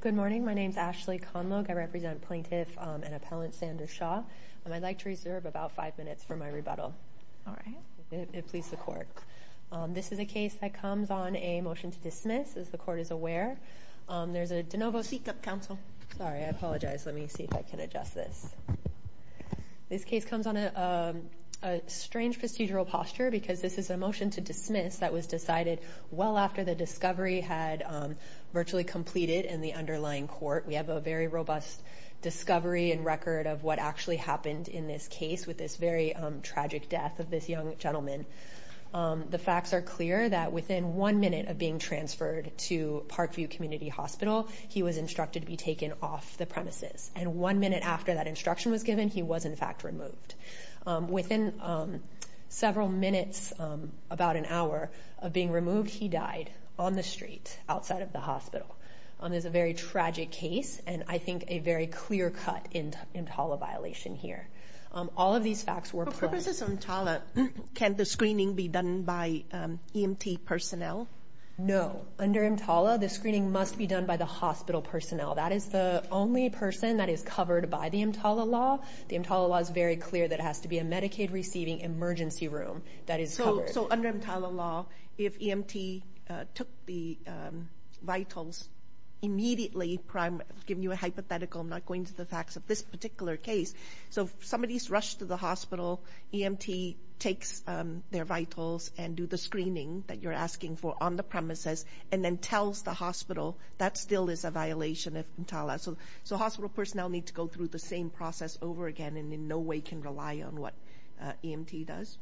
Good morning, my name is Ashley Conlogue, I represent Plaintiff and Appellant Sandra Shah. I'd like to reserve about five minutes for my rebuttal, if it pleases the court. This is a case that comes on a motion to dismiss, as the court is aware. There's a DeNovo Seat Gup Council, sorry, I apologize, let me see if I can adjust this. This case comes on a strange procedural posture, because this is a motion to dismiss that was decided well after the discovery had virtually completed in the underlying court. We have a very robust discovery and record of what actually happened in this case with this very tragic death of this young gentleman. The facts are clear that within one minute of being transferred to Parkview Community Hospital, he was instructed to be taken off the premises. And one minute after that instruction was given, he was in fact removed. Within several minutes, about an hour of being removed, he died on the street, outside of the hospital. This is a very tragic case, and I think a very clear cut in EMTALA violation here. All of these facts were- For purposes of EMTALA, can the screening be done by EMT personnel? No, under EMTALA, the screening must be done by the hospital personnel. That is the only person that is covered by the EMTALA law. The EMTALA law is very clear that it has to be a Medicaid-receiving emergency room that is covered. So under EMTALA law, if EMT took the vitals immediately, I'm giving you a hypothetical, I'm not going to the facts of this particular case. So if somebody's rushed to the hospital, EMT takes their vitals and do the screening that you're asking for on the premises, and then tells the hospital, that still is a violation of EMTALA. So hospital personnel need to go through the same process over again, and in no way can rely on what EMT does?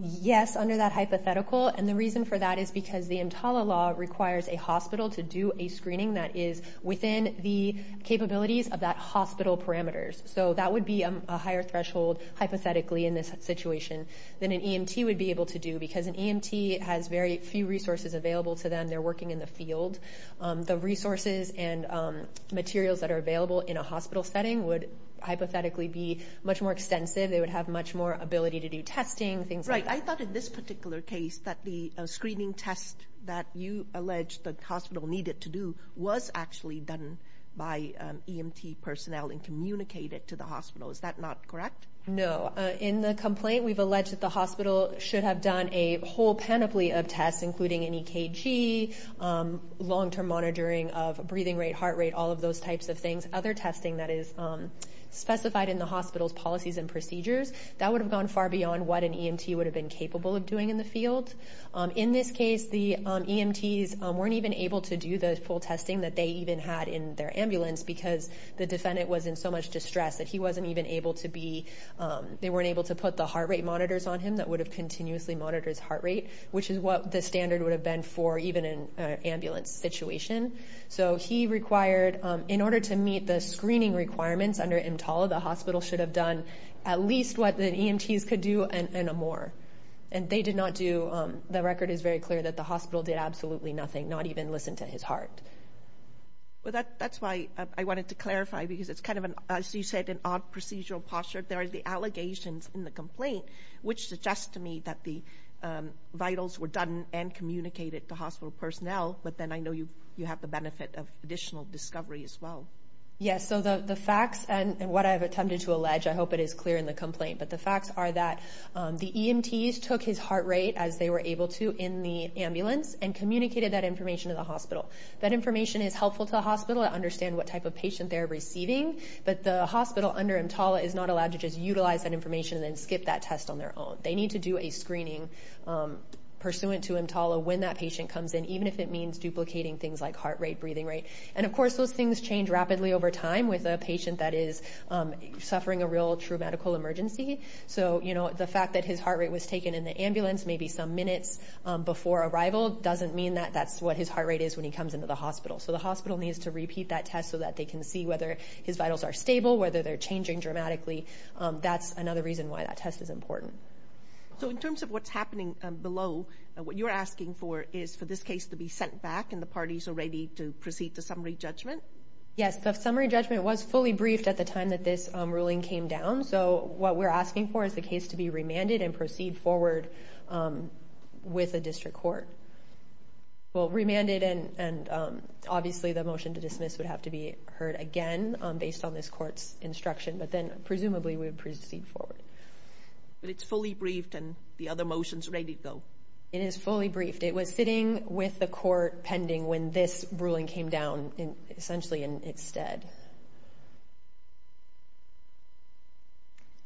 Yes, under that hypothetical. And the reason for that is because the EMTALA law requires a hospital to do a screening that is within the capabilities of that hospital parameters. So that would be a higher threshold, hypothetically, in this situation than an EMT would be able to do, because an EMT has very few resources available to them. They're working in the field. The resources and materials that are available in a hospital setting would, hypothetically, be much more extensive. They would have much more ability to do testing, things like that. Right. I thought in this particular case that the screening test that you alleged the hospital needed to do was actually done by EMT personnel and communicated to the hospital. Is that not correct? No. In the complaint, we've alleged that the hospital should have done a whole panoply of tests, including an EKG, long-term monitoring of breathing rate, heart rate, all of those types of things. Other testing that is specified in the hospital's policies and procedures. That would have gone far beyond what an EMT would have been capable of doing in the field. In this case, the EMTs weren't even able to do the full testing that they even had in their ambulance, because the defendant was in so much distress that he wasn't even able to be, they weren't able to put the heart rate monitors on him that would have continuously monitors heart rate, which is what the standard would have been for even an ambulance situation. So he required, in order to meet the screening requirements under EMTALA, the hospital should have done at least what the EMTs could do and more. And they did not do, the record is very clear that the hospital did absolutely nothing, not even listen to his heart. Well, that's why I wanted to clarify, because it's kind of, as you said, an odd procedural posture. There are the allegations in the complaint, which suggests to me that the vitals were done and communicated to hospital personnel, but then I know you have the benefit of additional discovery as well. Yes, so the facts and what I've attempted to allege, I hope it is clear in the complaint, but the facts are that the EMTs took his heart rate as they were able to in the ambulance and communicated that information to the hospital. That information is helpful to the hospital to understand what type of patient they're receiving, but the hospital under EMTALA is not allowed to just utilize that information and then skip that test on their own. They need to do a screening pursuant to EMTALA when that patient comes in, even if it means duplicating things like heart rate, breathing rate. And of course, those things change rapidly over time with a patient that is suffering a real, true medical emergency. So the fact that his heart rate was taken in the ambulance maybe some minutes before arrival doesn't mean that that's what his heart rate is when he comes into the hospital. So the hospital needs to repeat that test so that they can see whether his vitals are stable, whether they're changing dramatically. That's another reason why that test is important. So in terms of what's happening below, what you're asking for is for this case to be sent back and the parties are ready to proceed to summary judgment? Yes, the summary judgment was fully briefed at the time that this ruling came down. So what we're asking for is the case to be remanded and proceed forward with a district court. Well, remanded and obviously the motion to dismiss would have to be heard again based on this court's instruction, but then presumably we would proceed forward. But it's fully briefed and the other motion's ready to go? It is fully briefed. It was sitting with the court pending when this ruling came down essentially in its stead.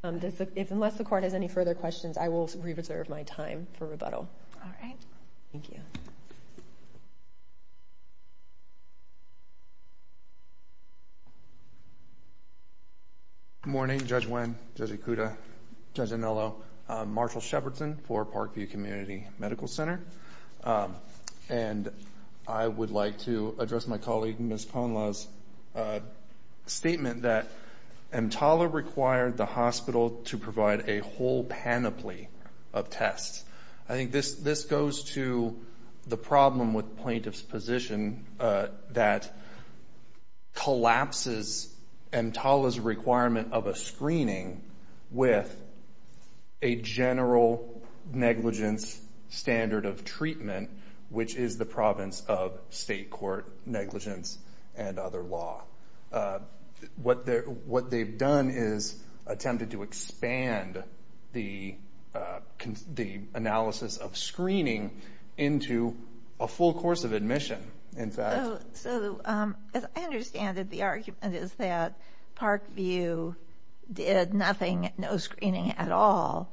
Unless the court has any further questions, I will reserve my time for rebuttal. All right. Thank you. Good morning. Judge Nguyen, Judge Ikuda, Judge Anello. Marshall Shepardson for Parkview Community Medical Center. And I would like to address my colleague Ms. Ponla's statement that EMTALA required the hospital to provide a whole panoply of tests. I think this goes to the problem with plaintiff's position that collapses EMTALA's requirement of a screening with a general negligence standard of treatment, which is the province of state court negligence and other law. What they've done is attempted to expand the analysis of screening into a full course of admission, in fact. So, as I understand it, the argument is that Parkview did nothing, no screening at all.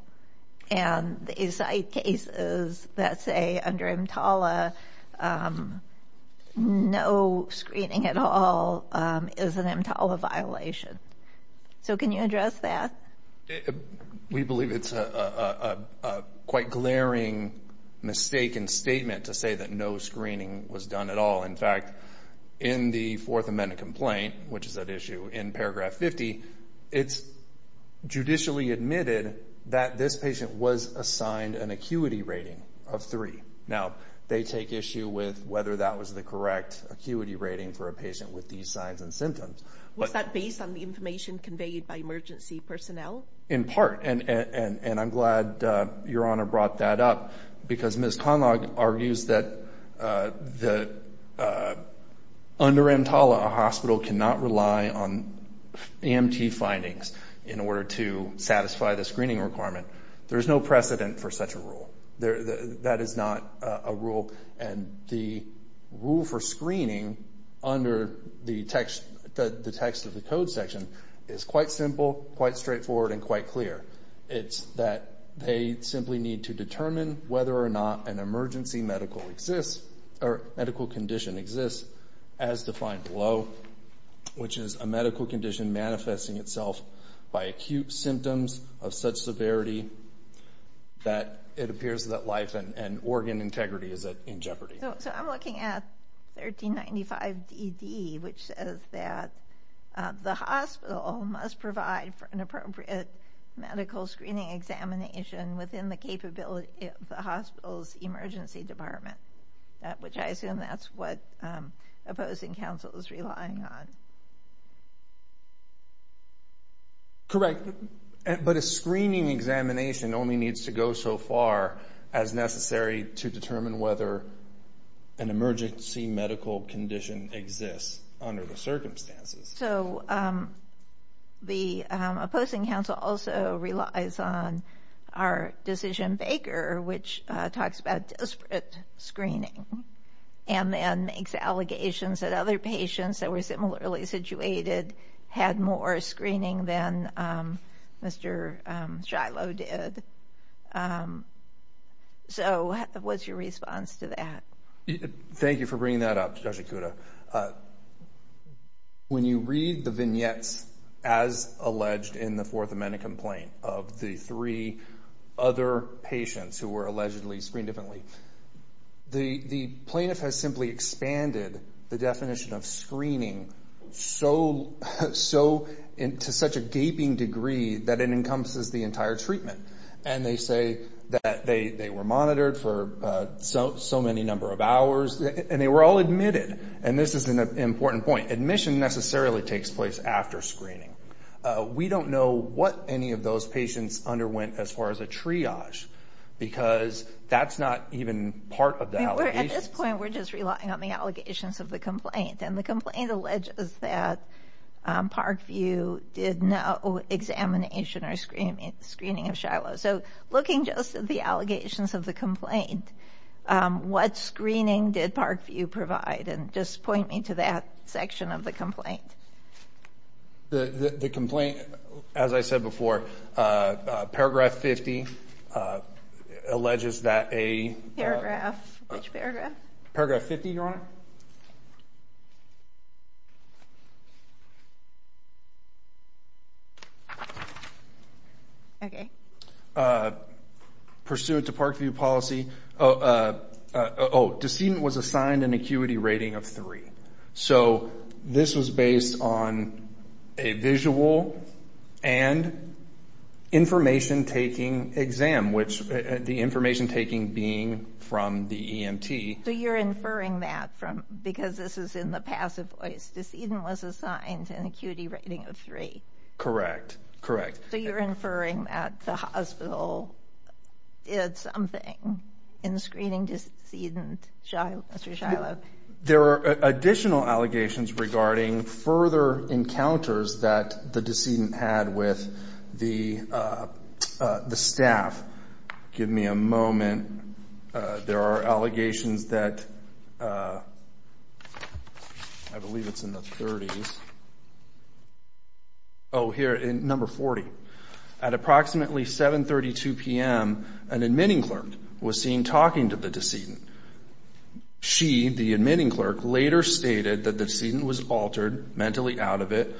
And they cite cases that say under EMTALA, no screening at all is an EMTALA violation. So, can you address that? We believe it's a quite glaring mistaken statement to say that no screening was done at all. In fact, in the Fourth Amendment complaint, which is at issue in paragraph 50, it's judicially admitted that this patient was assigned an acuity rating of 3. Now, they take issue with whether that was the correct acuity rating for a patient with these signs and symptoms. Was that based on the information conveyed by emergency personnel? In part. And I'm glad Your Honor brought that up because Ms. Ponla argues that under EMTALA, a hospital cannot rely on EMT findings in order to satisfy the screening requirement. There's no precedent for such a rule. That is not a rule. And the rule for screening under the text of the code section is quite simple, quite straightforward, and quite clear. It's that they simply need to determine whether or not an emergency medical exists or medical condition exists as defined below, which is a medical condition manifesting itself by acute symptoms of such severity that it appears that life and organ integrity is in jeopardy. So, I'm looking at 1395 DD, which says that the hospital must provide for an appropriate medical screening examination within the capability of the hospital's emergency department, which I assume that's what opposing counsel is relying on. Correct. But a screening examination only needs to go so far as necessary to determine whether an emergency medical condition exists under the circumstances. So, the opposing counsel also relies on our decision baker, which talks about desperate screening and then makes allegations that other patients that were similarly situated had more screening than Mr. Shiloh did. So, what's your response to that? Thank you for bringing that up, Judge Ikuda. When you read the vignettes as alleged in the Fourth Amendment complaint of the three other patients who were allegedly screened differently, the plaintiff has simply expanded the definition of screening to such a gaping degree that it encompasses the entire treatment. And they say that they were monitored for so many number of hours, and they were all admitted. And this is an important point. Admission necessarily takes place after screening. We don't know what any of those patients underwent as far as a triage, because that's not even part of the allegations. At this point, we're just relying on the allegations of the complaint. And the complaint alleges that Parkview did no examination or screening of Shiloh. So, looking just at the allegations of the complaint, what screening did Parkview provide? And just point me to that section of the complaint. The complaint, as I said before, Paragraph 50 alleges that a – Paragraph, which paragraph? Paragraph 50, Your Honor. Your Honor. Okay. Pursuant to Parkview policy – oh, decedent was assigned an acuity rating of three. So this was based on a visual and information-taking exam, which the information-taking being from the EMT. So you're inferring that from – because this is in the passive voice. Decedent was assigned an acuity rating of three. Correct. Correct. So you're inferring that the hospital did something in screening decedent, Mr. Shiloh. There are additional allegations regarding further encounters that the decedent had with the staff. Give me a moment. There are allegations that – I believe it's in the 30s. Oh, here, in number 40. At approximately 7.32 p.m., an admitting clerk was seen talking to the decedent. She, the admitting clerk, later stated that the decedent was altered, mentally out of it,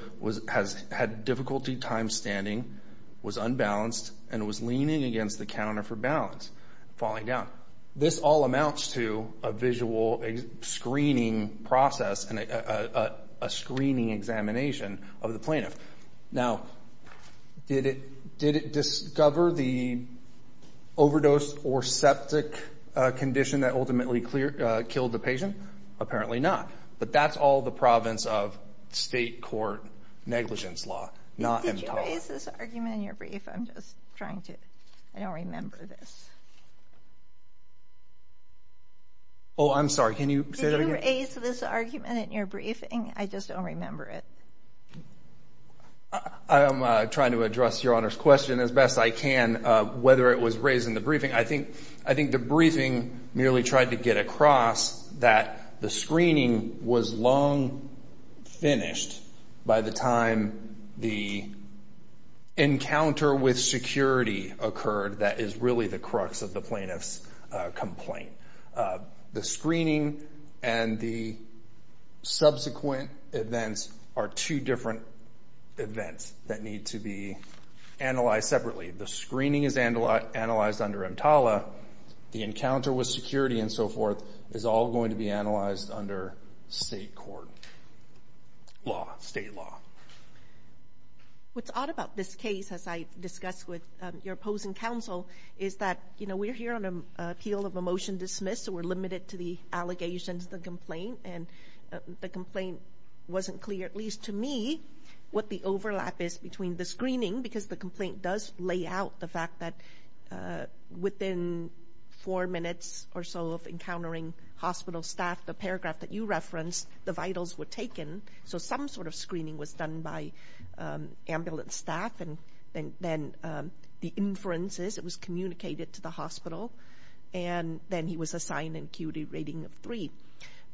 had difficulty time-standing, was unbalanced, and was leaning against the counter for balance, falling down. This all amounts to a visual screening process and a screening examination of the plaintiff. Now, did it discover the overdose or septic condition that ultimately killed the patient? Apparently not. But that's all the province of state court negligence law, not MDOT. Did you raise this argument in your briefing? I'm just trying to – I don't remember this. Oh, I'm sorry. Can you say that again? Did you raise this argument in your briefing? I just don't remember it. I am trying to address Your Honor's question as best I can, whether it was raised in the briefing. I think the briefing merely tried to get across that the screening was long finished by the time the encounter with security occurred. That is really the crux of the plaintiff's complaint. The screening and the subsequent events are two different events that need to be analyzed separately. The screening is analyzed under EMTALA. The encounter with security and so forth is all going to be analyzed under state court law, state law. What's odd about this case, as I discussed with your opposing counsel, is that, you know, we're here on appeal of a motion dismissed, so we're limited to the allegations of the complaint, and the complaint wasn't clear, at least to me, what the overlap is between the screening, because the complaint does lay out the fact that within four minutes or so of encountering hospital staff, the paragraph that you referenced, the vitals were taken, so some sort of screening was done by ambulance staff, and then the inferences, it was communicated to the hospital, and then he was assigned an acuity rating of three.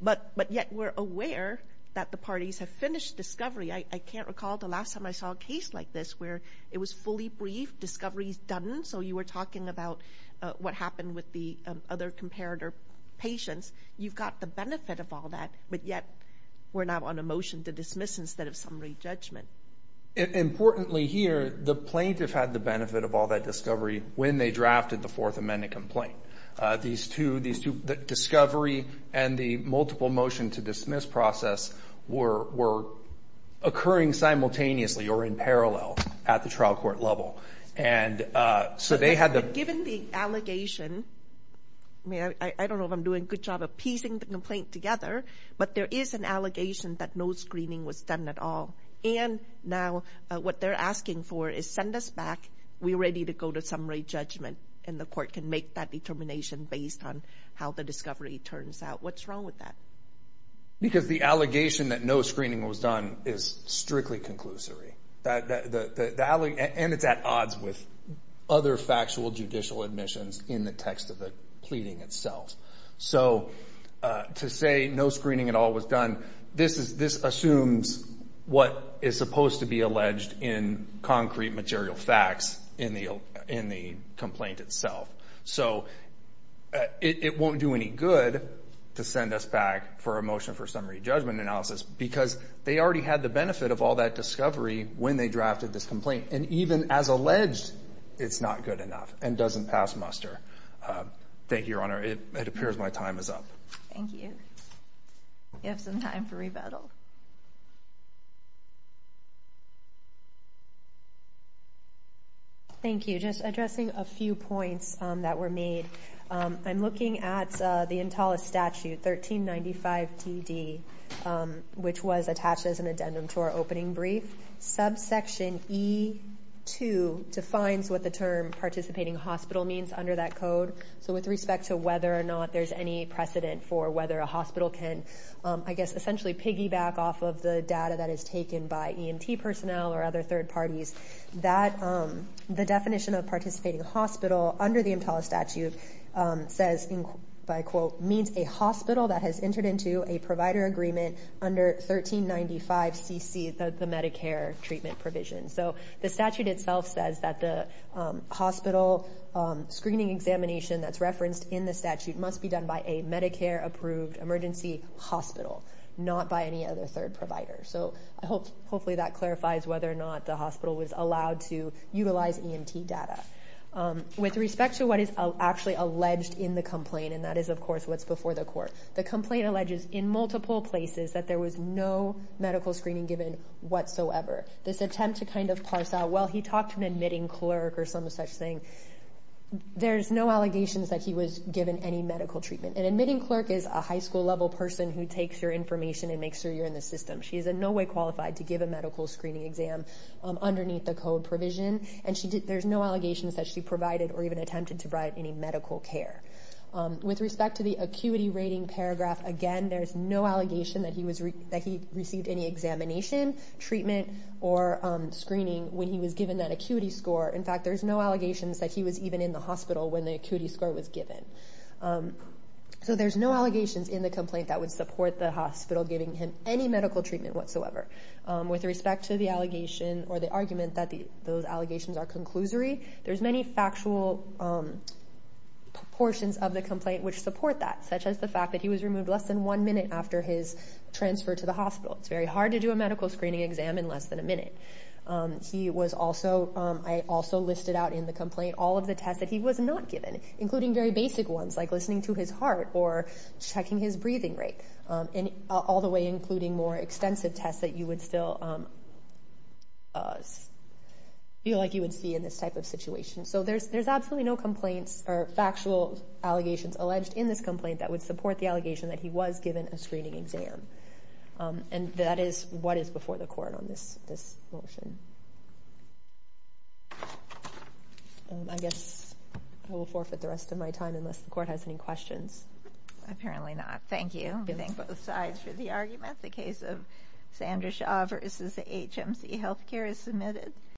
But yet we're aware that the parties have finished discovery. I can't recall the last time I saw a case like this where it was fully briefed, discovery is done, so you were talking about what happened with the other comparator patients. You've got the benefit of all that, but yet we're now on a motion to dismiss instead of summary judgment. Importantly here, the plaintiff had the benefit of all that discovery when they drafted the Fourth Amendment complaint. The discovery and the multiple motion to dismiss process were occurring simultaneously or in parallel at the trial court level. Given the allegation, I don't know if I'm doing a good job of piecing the complaint together, but there is an allegation that no screening was done at all, and now what they're asking for is send us back, we're ready to go to summary judgment, and the court can make that determination based on how the discovery turns out. What's wrong with that? Because the allegation that no screening was done is strictly conclusory, and it's at odds with other factual judicial admissions in the text of the pleading itself. So to say no screening at all was done, this assumes what is supposed to be alleged in concrete material facts in the complaint itself. So it won't do any good to send us back for a motion for summary judgment analysis because they already had the benefit of all that discovery when they drafted this complaint, and even as alleged, it's not good enough and doesn't pass muster. Thank you, Your Honor. It appears my time is up. Thank you. We have some time for rebuttal. Thank you. Just addressing a few points that were made, I'm looking at the Intala statute, 1395 TD, which was attached as an addendum to our opening brief. Subsection E2 defines what the term participating hospital means under that code. So with respect to whether or not there's any precedent for whether a hospital can, I guess, essentially piggyback off of the data that is taken by EMT personnel or other third parties, the definition of participating hospital under the Intala statute says, by quote, it means a hospital that has entered into a provider agreement under 1395 CC, the Medicare treatment provision. So the statute itself says that the hospital screening examination that's referenced in the statute must be done by a Medicare-approved emergency hospital, not by any other third provider. So hopefully that clarifies whether or not the hospital was allowed to utilize EMT data. With respect to what is actually alleged in the complaint, and that is, of course, what's before the court, the complaint alleges in multiple places that there was no medical screening given whatsoever. This attempt to kind of parse out, well, he talked to an admitting clerk or some such thing. There's no allegations that he was given any medical treatment. An admitting clerk is a high school-level person who takes your information and makes sure you're in the system. She is in no way qualified to give a medical screening exam underneath the code provision, and there's no allegations that she provided or even attempted to provide any medical care. With respect to the acuity rating paragraph, again, there's no allegation that he received any examination, treatment, or screening when he was given that acuity score. In fact, there's no allegations that he was even in the hospital when the acuity score was given. So there's no allegations in the complaint that would support the hospital giving him any medical treatment whatsoever. With respect to the allegation or the argument that those allegations are conclusory, there's many factual proportions of the complaint which support that, such as the fact that he was removed less than one minute after his transfer to the hospital. It's very hard to do a medical screening exam in less than a minute. He was also ñ I also listed out in the complaint all of the tests that he was not given, including very basic ones like listening to his heart or checking his breathing rate, all the way including more extensive tests that you would still feel like you would see in this type of situation. So there's absolutely no complaints or factual allegations alleged in this complaint that would support the allegation that he was given a screening exam. And that is what is before the court on this motion. I guess I will forfeit the rest of my time unless the court has any questions. Apparently not. Thank you. We thank both sides for the argument. The case of Sandra Shaw v. HMC Health Care is submitted.